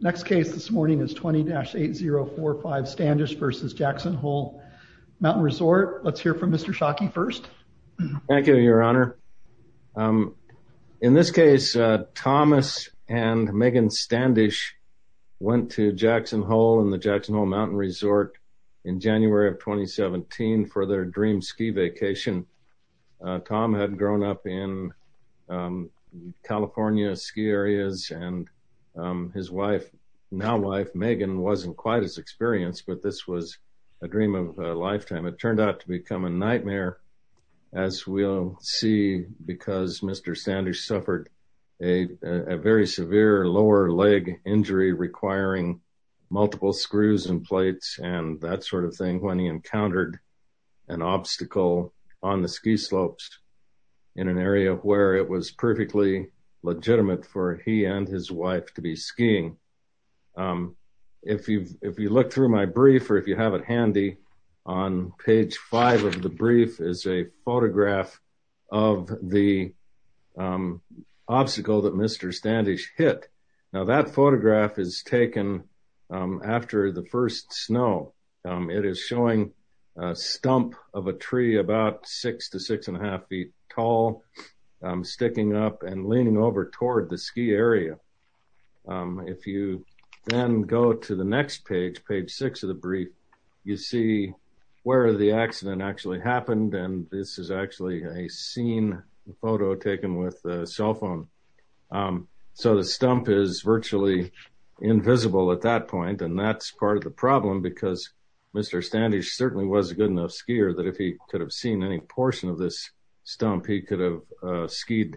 Next case this morning is 20-8045 Standish v. Jackson Hole Mountain Resort. Let's hear from Mr. Shockey first. Thank you, your honor. In this case, Thomas and Megan Standish went to Jackson Hole and the Jackson Hole Mountain Resort in January of 2017 for their dream ski vacation. Tom had grown up in California ski areas and his wife, now wife Megan, wasn't quite as experienced but this was a dream of a lifetime. It turned out to become a nightmare as we'll see because Mr. Standish suffered a very severe lower leg injury requiring multiple screws and plates and that sort of thing when he encountered an obstacle on the ski slopes in an area where it was perfectly legitimate for he and his wife to be skiing. If you look through my brief or if you have it handy, on page five of the brief is a photograph of the obstacle that Mr. Standish hit. Now that photograph is taken after the first snow. It is showing a stump of a tree about six to six and a half feet tall sticking up and leaning over toward the ski area. If you then go to the next page, page six of the brief, you see where the accident actually happened. The stump is virtually invisible at that point and that's part of the problem because Mr. Standish certainly was a good enough skier that if he could have seen any portion of this stump he could have skied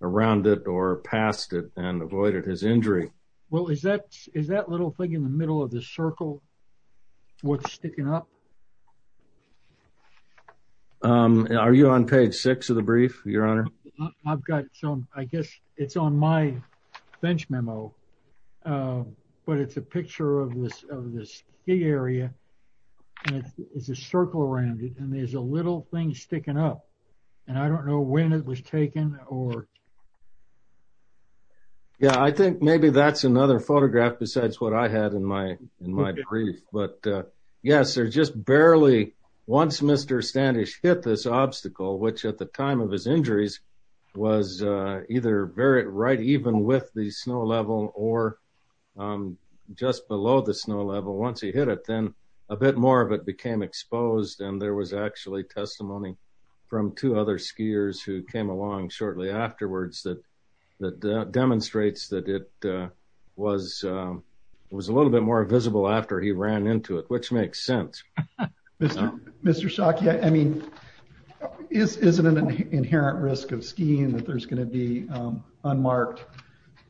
around it or past it and avoided his injury. Well is that little thing in the middle of the circle what's sticking up? Are you on page six of the brief, your honor? I've got some, I guess it's on my bench memo but it's a picture of this of this ski area and it's a circle around it and there's a little thing sticking up and I don't know when it was taken or... Yeah, I think maybe that's another Once Mr. Standish hit this obstacle, which at the time of his injuries was either very right even with the snow level or just below the snow level, once he hit it then a bit more of it became exposed and there was actually testimony from two other skiers who came along shortly afterwards that demonstrates that it was a little bit more visible after he ran into it, which makes sense. Mr. Shockey, I mean is it an inherent risk of skiing that there's going to be unmarked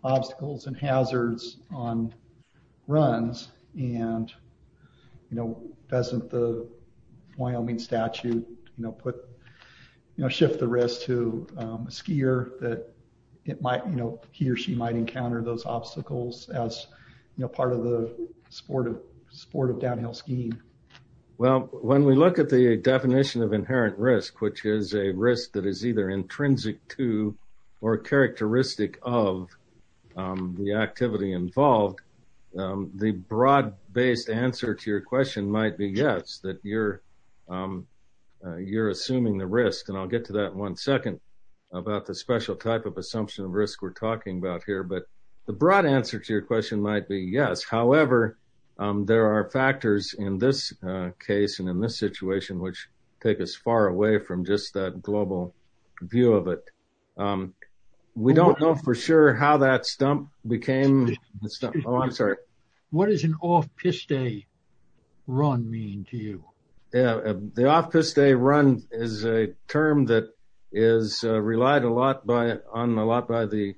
obstacles and hazards on runs and you know doesn't the Wyoming statute you know put you know shift the risk to a skier that it might you know he or she might encounter those obstacles as you know part of the sport of downhill skiing? Well, when we look at the definition of inherent risk, which is a risk that is either intrinsic to or characteristic of the activity involved, the broad-based answer to your question might be yes that you're assuming the risk and I'll get to that one second about the special type of assumption of risk we're talking about here, but the broad answer to your question might be yes. However, there are factors in this case and in this situation which take us far away from just that global view of it. We don't know for sure how that stump became, oh I'm sorry. What does an off-piste run mean to you? Yeah, the off-piste run is a term that is relied a lot by on a lot by the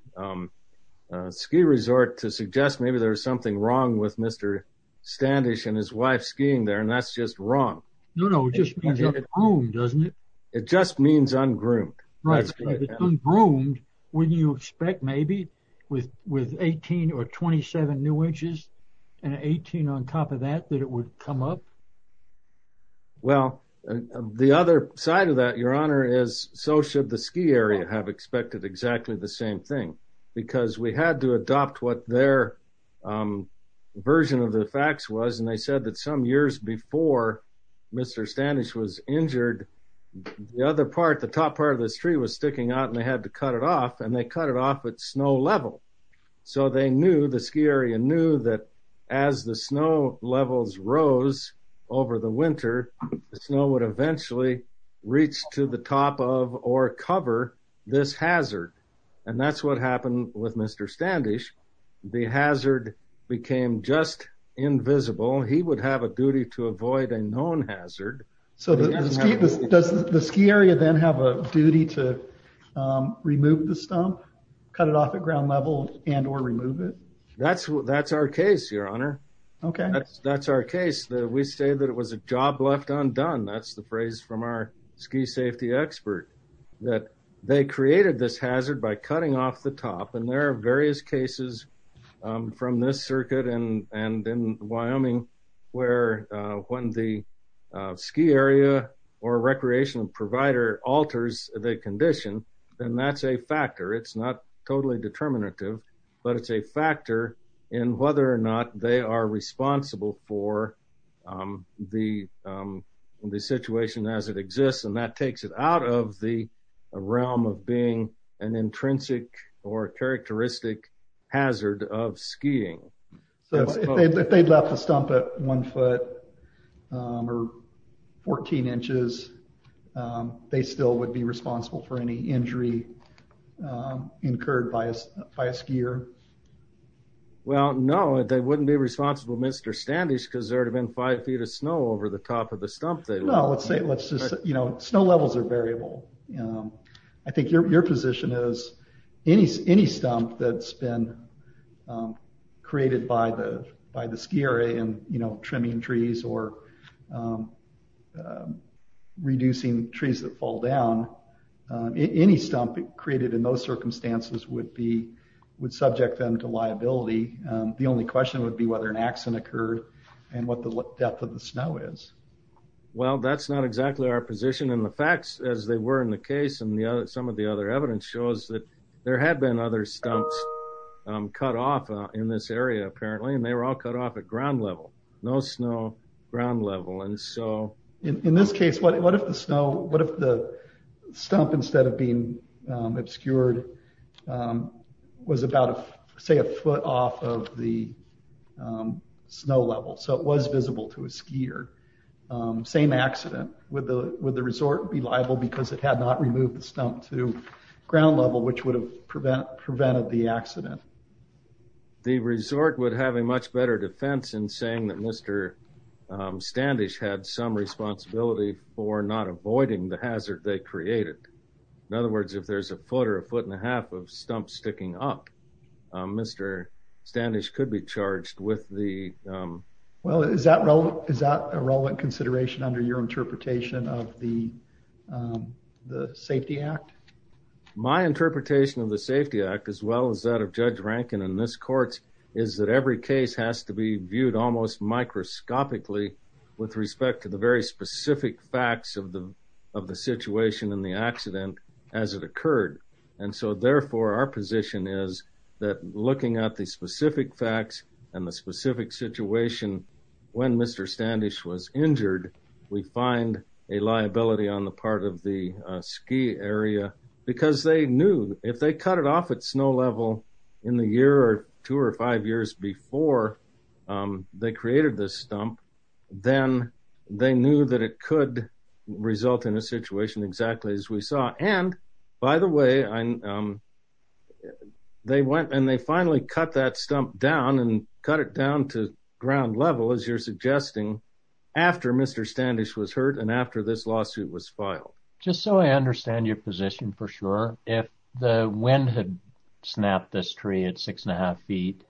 ski resort to suggest maybe there's something wrong with Mr. Standish and his wife skiing there and that's just wrong. No, no, it just means un-groomed, doesn't it? It just means un-groomed. Un-groomed, wouldn't you expect maybe with 18 or 27 new inches and 18 on top of that that it would come up? Well, the other side of that, your honor, is so should the ski area have expected exactly the same thing because we had to adopt what their version of the facts was and they said that some years before Mr. Standish was injured, the other part, the top part of this tree was sticking out and they had to cut it off and they cut it off at snow level. So, they knew, the ski area knew that as the snow levels rose over the winter, the snow would eventually reach to the top of or cover this hazard and that's what happened with Mr. Standish. The hazard became just invisible. He would have a duty to avoid a known hazard. So, does the ski area then have a duty to remove the stump, cut it off at ground level and or remove it? That's our case, your honor. Okay. That's our case. We say that it was a job left undone. That's the phrase from our ski safety expert that they created this hazard by cutting off the top and there are various cases from this circuit and in Wyoming where when the ski area or recreational provider alters the condition, then that's a factor. It's not totally determinative but it's a factor in whether or not they are responsible for the situation as it exists and that takes it out of the realm of being an intrinsic or characteristic hazard of skiing. So, if they left the stump at one foot or 14 inches, they still would be responsible for any injury incurred by a skier? Well, no. They wouldn't be responsible, Mr. Standish, because there would have been five feet of snow over the top of the stump they left. No, let's say, let's just, you know, snow levels are variable. I think your position is any stump that's been created by the ski area and, you know, trimming trees or reducing trees that fall down, any stump created in those circumstances would subject them to liability. The only question would be whether an accident occurred and what the depth of the snow is. Well, that's not exactly our position and the facts as they were in the case and some of the other evidence shows that there have been other stumps cut off in this area apparently and they were all cut off at ground level. No snow, ground level. In this case, what if the snow, what if the stump instead of being obscured was about, say, a foot off of the same accident? Would the resort be liable because it had not removed the stump to ground level which would have prevented the accident? The resort would have a much better defense in saying that Mr. Standish had some responsibility for not avoiding the hazard they created. In other words, if there's a foot or a foot and a half of stump sticking up, Mr. Standish could be charged with the... Well, is that a relevant consideration under your interpretation of the Safety Act? My interpretation of the Safety Act as well as that of Judge Rankin in this court is that every case has to be viewed almost microscopically with respect to the very specific facts of the situation and the accident as it occurred. And so, therefore, our position is that looking at the specific facts and the specific situation when Mr. Standish was injured, we find a liability on the part of the ski area because they knew if they cut it off at snow level in the year or two or five years before they created this stump, then they knew that it could result in a situation exactly as we saw. And by the way, they went and they finally cut that stump down and cut it down to ground level as you're suggesting after Mr. Standish was hurt and after this lawsuit was filed. Just so I understand your position for sure, if the wind had snapped this tree at six and a half feet,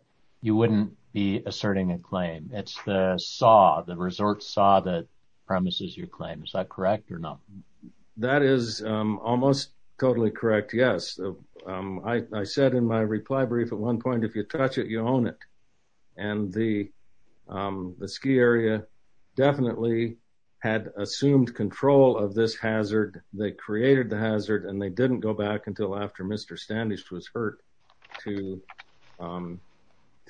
you wouldn't be asserting a claim. It's the saw, the resort saw that premises your claim. Is that correct or not? That is almost totally correct, yes. I said in my reply brief at one point, if you touch it, you own it. And the ski area definitely had assumed control of this hazard. They created the hazard and they didn't go back until after Mr. Standish was hurt to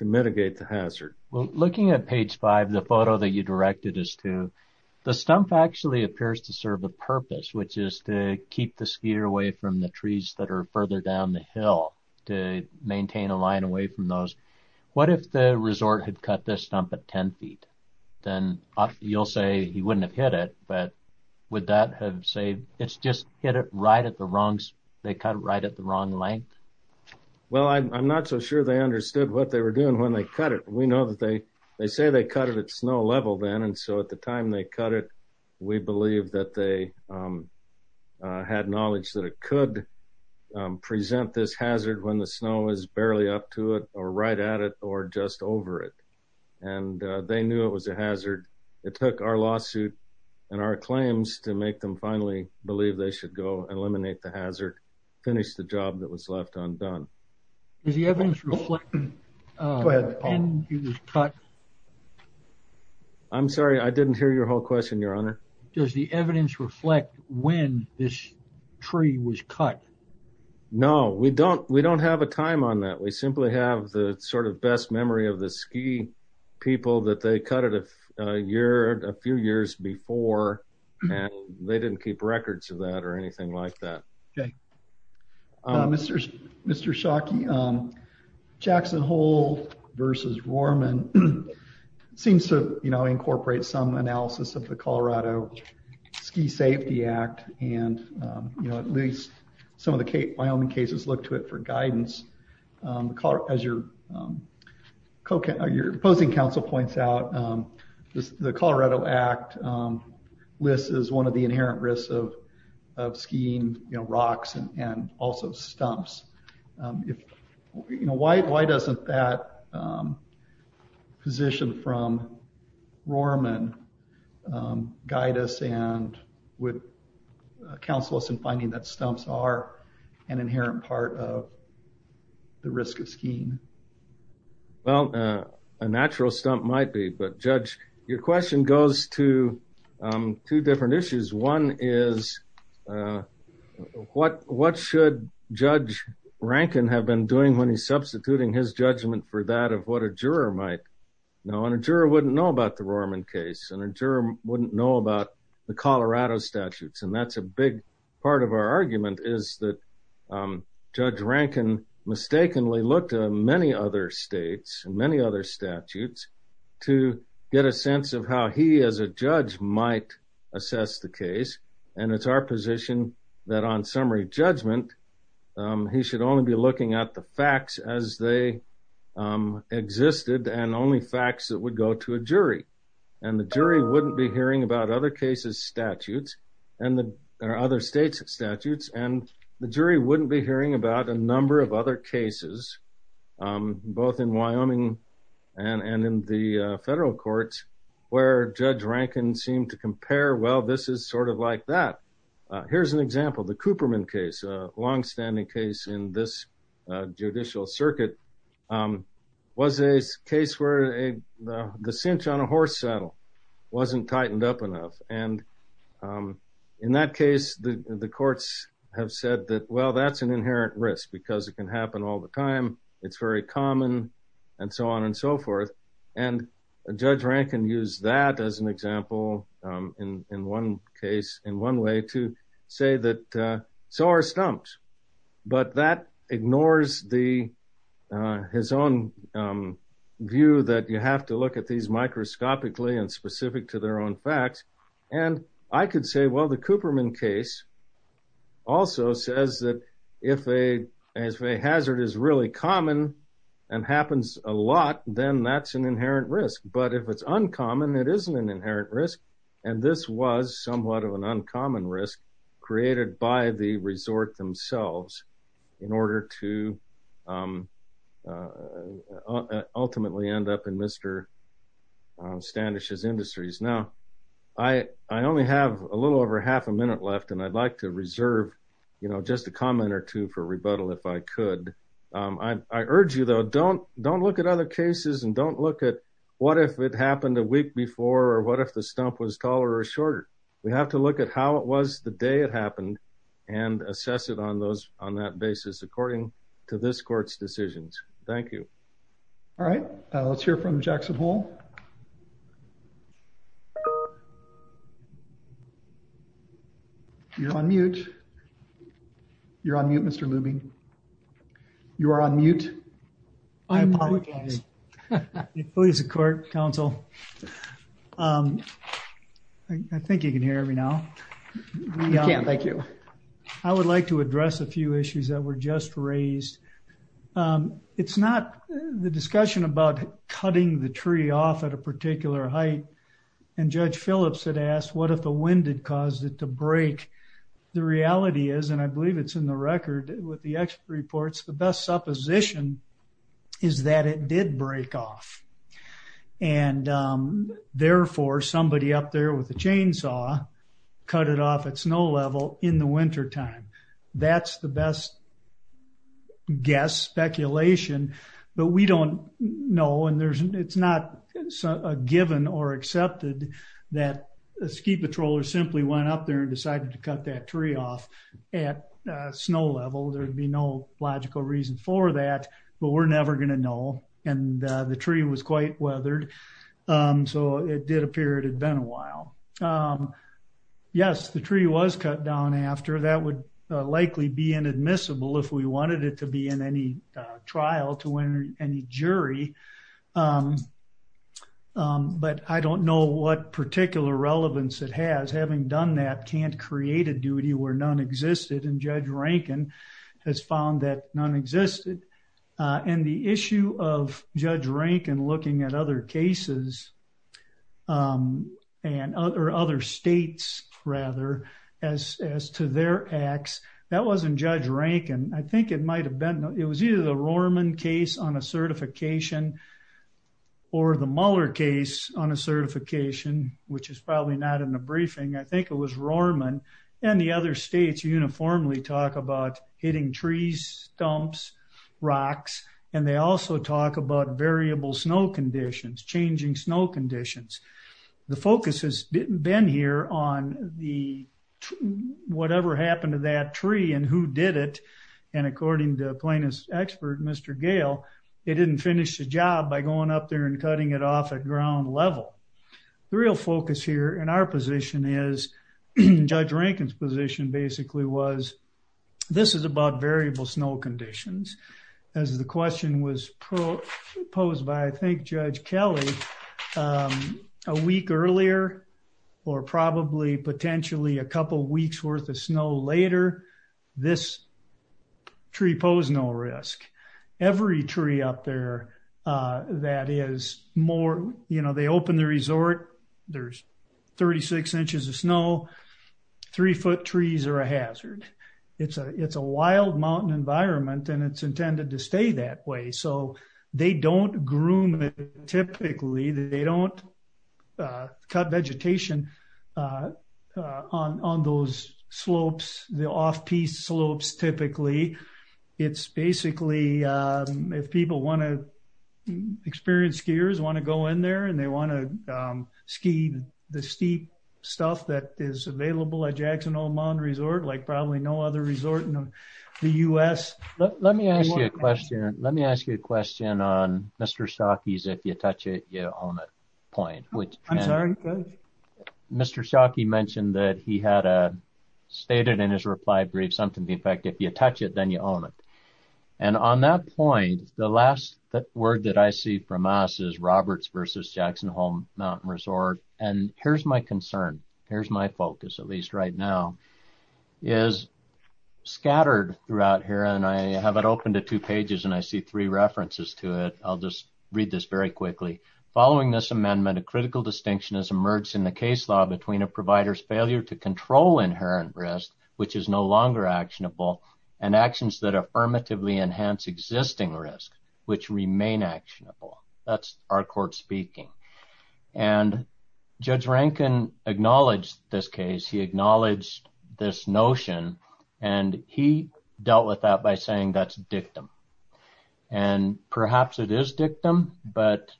mitigate the hazard. Well, looking at page five, the photo that you directed us to, the stump actually appears to serve a purpose, which is to keep the skier away from the trees that are further down the hill to maintain a line away from those. What if the resort had cut this stump at 10 feet? Then you'll say he wouldn't have hit it, but would that have saved, it's just hit it right at the wrong, they cut it right at the wrong length? Well, I'm not so sure they understood what they were doing when they cut it. We know that they say they cut it at snow level then. And so at the time they cut it, we believe that they had knowledge that it could present this hazard when the snow is barely up to it or right at it or just over it. And they knew it was a hazard. It took our lawsuit and our claims to make them finally believe they should go and eliminate the stump. I'm sorry, I didn't hear your whole question, your honor. Does the evidence reflect when this tree was cut? No, we don't. We don't have a time on that. We simply have the sort of best memory of the ski people that they cut it a year, a few years before and they didn't keep records of that or anything like that. Okay. Mr. Shockey, Jackson Hole versus Roarman seems to incorporate some analysis of the Colorado Ski Safety Act and at least some of the Wyoming cases look to it for guidance. As your opposing counsel points out, the Colorado Act lists as one of the inherent risks of skiing rocks and also stumps. Why doesn't that position from Roarman guide us and would counsel us in finding that stumps are an inherent part of the risk of skiing? Well, a natural stump might be, but Judge, your question goes to two different issues. One is what should Judge Rankin have been doing when he's substituting his judgment for that of what a juror might know and a juror wouldn't know about the Roarman case and a juror wouldn't know about the Colorado statutes and that's a big part of our argument is that Judge Rankin mistakenly looked at many other states and many other statutes to get a sense of how he as a judge might assess the case and it's our position that on summary judgment he should only be looking at the facts as they existed and only facts that would go to a jury and the jury wouldn't be hearing about other cases statutes and the other states statutes and the jury wouldn't be hearing about a number of other cases both in Wyoming and in the federal courts where Judge Rankin seemed to compare well this is sort of like that. Here's an example, the Cooperman case, a long-standing case in this judicial circuit was a case where the cinch on a horse saddle wasn't tightened up enough and in that case the well that's an inherent risk because it can happen all the time it's very common and so on and so forth and Judge Rankin used that as an example in one case in one way to say that so are stumps but that ignores his own view that you have to look at these microscopically and specific to if a hazard is really common and happens a lot then that's an inherent risk but if it's uncommon it isn't an inherent risk and this was somewhat of an uncommon risk created by the resort themselves in order to ultimately end up in Mr. Standish's industries. Now I only have a little over half a minute left and I'd like to reserve you know just a comment or two for rebuttal if I could. I urge you though don't don't look at other cases and don't look at what if it happened a week before or what if the stump was taller or shorter we have to look at how it was the day it happened and assess it on those on that basis according to this court's decisions. Thank you. All right let's hear from Jackson Hole. You're on mute. You're on mute Mr. Lubing. You are on mute. I apologize. Please support counsel. I think you can hear me now. I can't thank you. I would like to address a few issues that were just raised. It's not the discussion about cutting the tree off at a particular height and Judge Phillips had asked what if the wind had caused it to break. The reality is and I believe it's in the record with the expert reports the best supposition is that it did break off and therefore somebody up there with a chainsaw cut it off at snow level in the winter time. That's the best guess speculation but we don't know and there's it's not a given or accepted that a ski patroller simply went up there and decided to cut that tree off at snow level. There'd be no logical reason for that but we're never going to know and the did appear it had been a while. Yes the tree was cut down after that would likely be inadmissible if we wanted it to be in any trial to win any jury but I don't know what particular relevance it has. Having done that can't create a duty where none existed and Judge Rankin has found that none existed and the issue of Judge Rankin looking at other cases and other states rather as as to their acts that wasn't Judge Rankin. I think it might have been it was either the Rohrman case on a certification or the Muller case on a certification which is probably not in the briefing. I think it was Rohrman and the other states uniformly talk about hitting trees, stumps, rocks and they also talk about variable snow conditions changing snow conditions. The focus has been here on the whatever happened to that tree and who did it and according to plaintiff's expert Mr. Gale they didn't finish the job by going up there and cutting it off at ground level. The real focus here in our position is Judge Rankin's position basically was this is about variable snow conditions as the question was posed by I think Judge Kelly a week earlier or probably potentially a couple weeks worth of snow later. This tree posed no risk. Every tree up there that is more you know they open the resort there's 36 inches of snow. Three foot trees are a hazard. It's a wild mountain environment and it's intended to stay that way so they don't groom it typically they don't cut vegetation on those slopes the off-piste slopes typically. It's basically if people want to experienced skiers want to go in there and they want to ski the steep stuff that is available at Jackson Hole Mountain Resort like probably no other resort in the U.S. Let me ask you a question let me ask you a question on Mr. Shockey's if you touch it you own it point which I'm sorry Mr. Shockey mentioned that he had a stated in his reply brief something the effect if you touch it then you own it and on that point the last that word that I see from us is Roberts versus Jackson Hole Mountain Resort and here's my concern here's my focus at least right now is scattered throughout here and I have it open to two pages and I see three references to it I'll just read this very quickly following this amendment a critical distinction has emerged in the case law between a provider's failure to control inherent risk which is no longer actionable and actions that affirmatively enhance existing risk which remain actionable that's our court speaking and Judge Rankin acknowledged this case he acknowledged this notion and he dealt with that by saying that's dictum and perhaps it is dictum but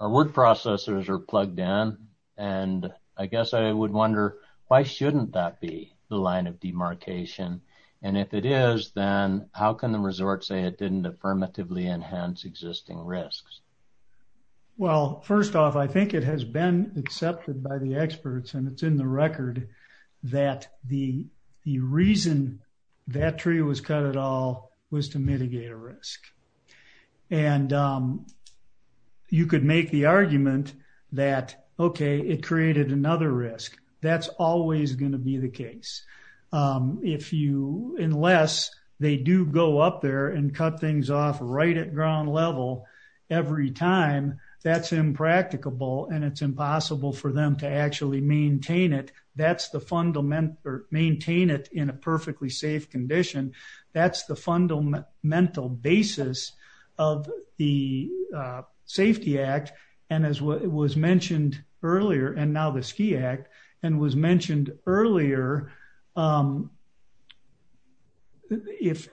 our word processors are plugged in and I guess I would why shouldn't that be the line of demarcation and if it is then how can the resort say it didn't affirmatively enhance existing risks well first off I think it has been accepted by the experts and it's in the record that the the reason that tree was cut at all was to mitigate a risk and you could make the argument that okay it created another risk that's always going to be the case if you unless they do go up there and cut things off right at ground level every time that's impracticable and it's impossible for them to actually maintain it that's the fundamental or maintain it in a perfectly safe condition that's the fundamental basis of the safety act and as what was mentioned earlier and now the ski act and was mentioned earlier if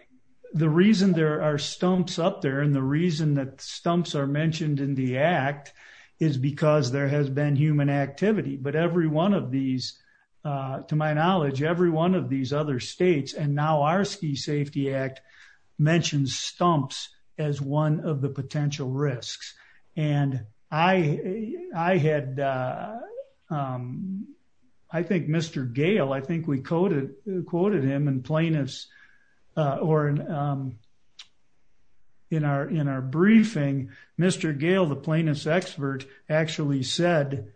the reason there are stumps up there and the reason that stumps are mentioned in the act is because there has been human activity but every one of these to my knowledge every one of these other states and now our ski safety act mentions stumps as one of the potential risks and I had I think Mr. Gale I think we quoted quoted him and plaintiffs or um in our in our briefing Mr. Gale the plaintiff's expert actually said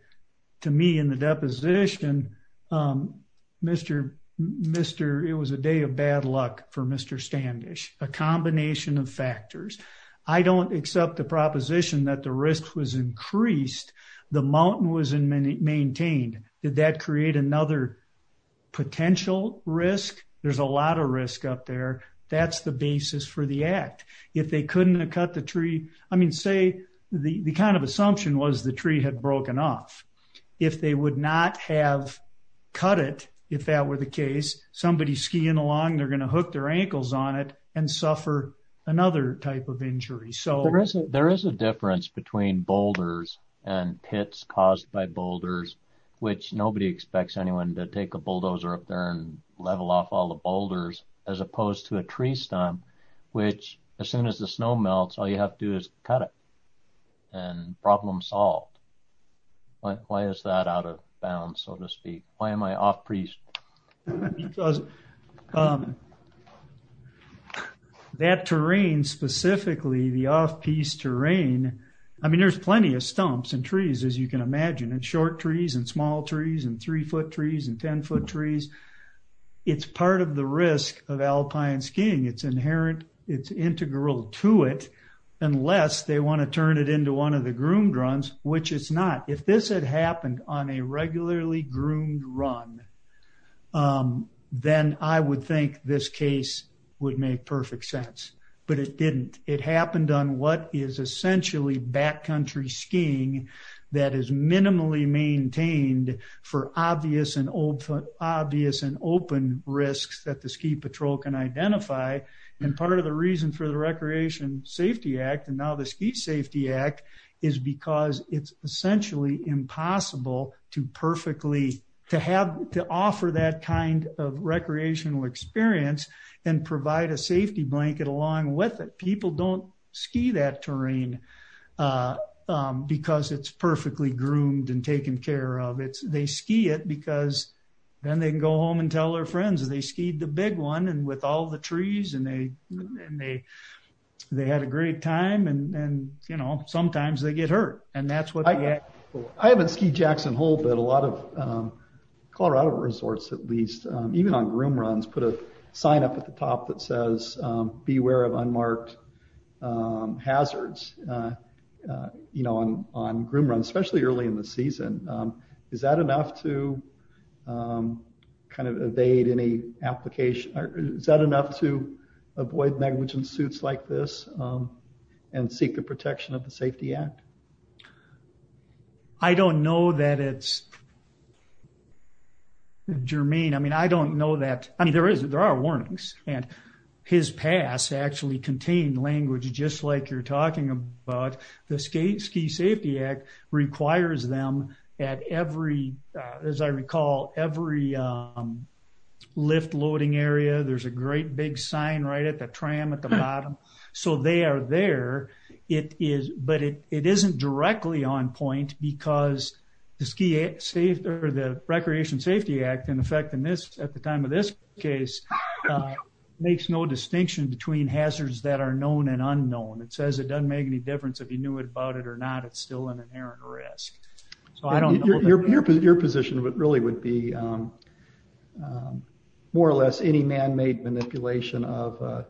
to me in the deposition um Mr. Mr. it was a day of bad luck for Mr. Standish a combination of factors I don't accept the proposition that the risk was increased the mountain was in many maintained did that create another potential risk there's a lot of risk up there that's the basis for the act if they couldn't have cut the tree I mean say the the kind of assumption was the tree had broken off if they would not have cut it if that were the case somebody's skiing along they're going to hook their ankles on it and suffer another type of injury so there isn't there is a difference between boulders and pits caused by boulders which nobody expects anyone to take a bulldozer up there and level off all the boulders as opposed to a tree stump which as soon as the snow melts all you have to do is cut it and problem solved why is that out of bounds so to speak why am I because um that terrain specifically the off-piste terrain I mean there's plenty of stumps and trees as you can imagine and short trees and small trees and three foot trees and ten foot trees it's part of the risk of alpine skiing it's inherent it's integral to it unless they want to turn it into one of the groomed runs which it's not if this had happened on a regularly groomed run then I would think this case would make perfect sense but it didn't it happened on what is essentially backcountry skiing that is minimally maintained for obvious and old foot obvious and open risks that the ski patrol can identify and part of the reason for the Recreation Safety Act and now the Ski Safety Act is because it's essentially impossible to perfectly to have to offer that kind of recreational experience and provide a safety blanket along with it people don't ski that terrain because it's perfectly groomed and taken care of it's they ski it because then they can go home and tell their friends they skied the big one and all the trees and they they had a great time and you know sometimes they get hurt and that's what I haven't skied Jackson Hole but a lot of Colorado resorts at least even on groomed runs put a sign up at the top that says beware of unmarked hazards you know on groomed runs especially early in the season is that enough to kind of evade any application or is that enough to avoid negligent suits like this and seek the protection of the Safety Act? I don't know that it's germane I mean I don't know that I mean there is there are warnings and his pass actually contained language just like you're talking about the Ski Safety Act requires them at every as I recall every lift loading area there's a great big sign right at the tram at the bottom so they are there it is but it isn't directly on point because the Ski Safety or the Recreation Safety Act in effect in this at the time of this case makes no distinction between hazards that are known and unknown it says it doesn't make any it or not it's still in an errant risk so I don't know. Your position really would be more or less any man-made manipulation of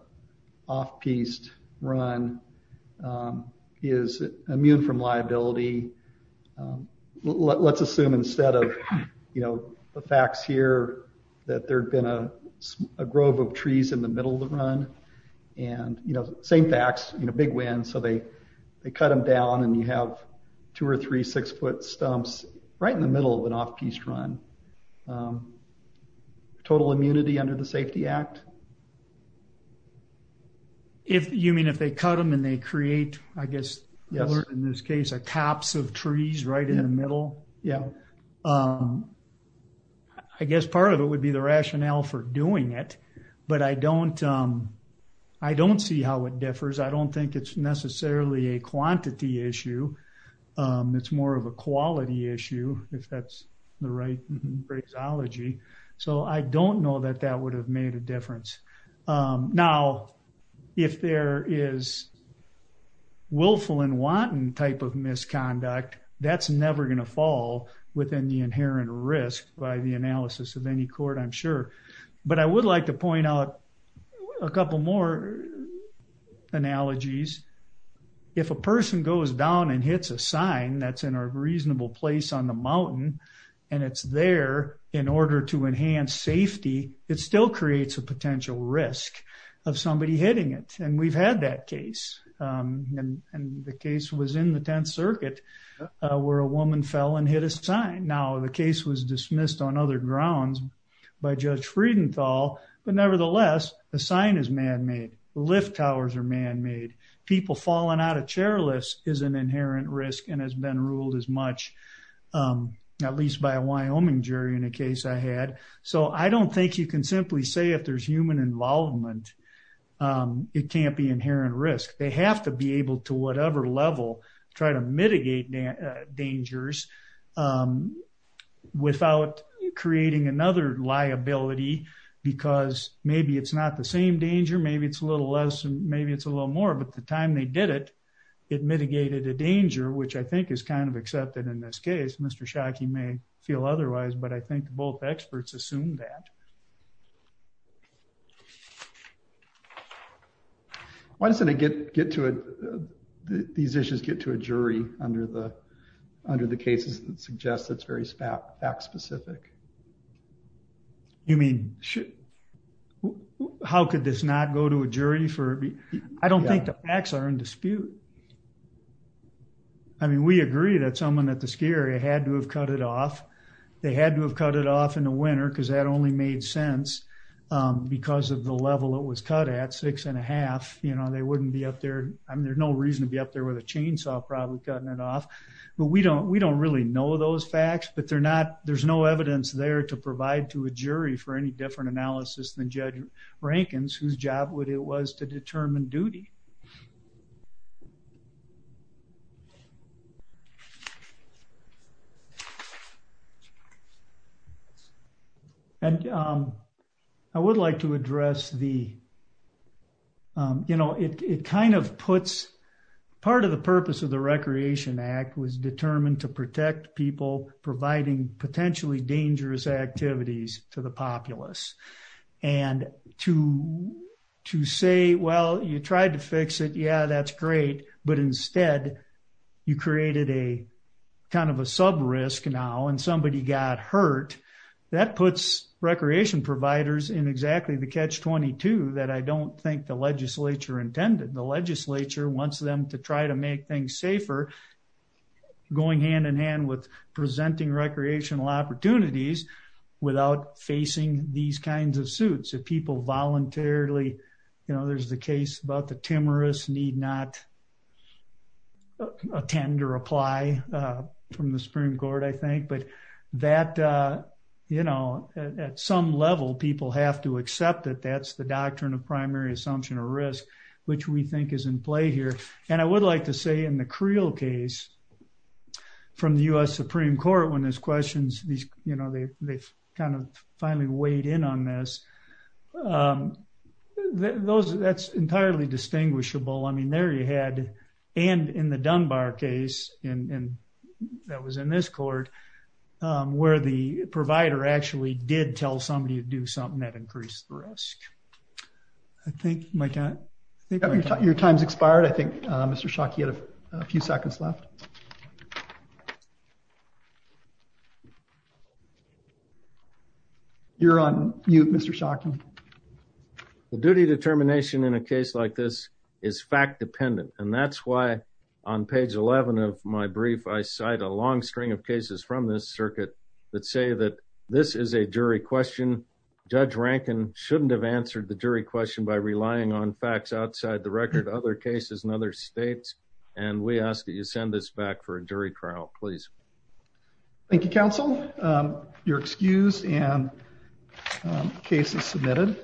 off-piste run is immune from liability let's assume instead of you know the facts here that there'd been a grove of trees in the middle of run and you know same facts you know big wind so they they cut them down and you have two or three six-foot stumps right in the middle of an off-piste run total immunity under the Safety Act? If you mean if they cut them and they create I guess in this case a tops of trees right in the um I guess part of it would be the rationale for doing it but I don't um I don't see how it differs I don't think it's necessarily a quantity issue it's more of a quality issue if that's the right phraseology so I don't know that that would have made a difference now if there is willful and wanton type of misconduct that's never going to fall within the inherent risk by the analysis of any court I'm sure but I would like to point out a couple more analogies if a person goes down and hits a sign that's in a reasonable place on the mountain and it's there in order to enhance safety it still creates a potential risk of somebody hitting it and we've that case and the case was in the 10th circuit where a woman fell and hit a sign now the case was dismissed on other grounds by Judge Friedenthal but nevertheless the sign is man-made lift towers are man-made people falling out of chairlifts is an inherent risk and has been ruled as much um at least by a Wyoming jury in a case I had so I don't think you can simply say if there's involvement it can't be inherent risk they have to be able to whatever level try to mitigate dangers without creating another liability because maybe it's not the same danger maybe it's a little less and maybe it's a little more but the time they did it it mitigated a danger which I think is kind of accepted in this case Mr. Shockey may feel otherwise but I think both experts assume that why doesn't it get get to it these issues get to a jury under the under the cases that suggest it's very fact specific you mean should how could this not go to a jury for me I don't think the facts are in dispute I mean we agree that someone at the had to have cut it off they had to have cut it off in the winter because that only made sense because of the level it was cut at six and a half you know they wouldn't be up there I mean there's no reason to be up there with a chainsaw probably cutting it off but we don't we don't really know those facts but they're not there's no evidence there to provide to a jury for any judge Rankin's whose job would it was to determine duty and I would like to address the you know it kind of puts part of the purpose of the Recreation Act was determined to protect people providing potentially dangerous activities to populace and to to say well you tried to fix it yeah that's great but instead you created a kind of a sub risk now and somebody got hurt that puts recreation providers in exactly the catch 22 that I don't think the legislature intended the legislature wants them to try to make things safer going hand in hand with presenting recreational opportunities without facing these kinds of suits if people voluntarily you know there's the case about the timorous need not attend or apply from the Supreme Court I think but that you know at some level people have to accept that that's the doctrine of primary assumption or risk which we think is in play and I would like to say in the Creel case from the U.S. Supreme Court when there's questions these you know they've kind of finally weighed in on this those that's entirely distinguishable I mean there you had and in the Dunbar case and that was in this court where the provider actually did tell somebody to do something that increased the risk I think my dad I think your time's expired I think Mr. Schock you had a few seconds left you're on mute Mr. Schock the duty determination in a case like this is fact dependent and that's why on page 11 of my brief I cite a long string of cases from this circuit that say that this is a jury question judge Rankin shouldn't have answered the jury question by relying on facts outside the record other cases in other states and we ask that you send this back for a jury trial please thank you counsel your excuse and case is submitted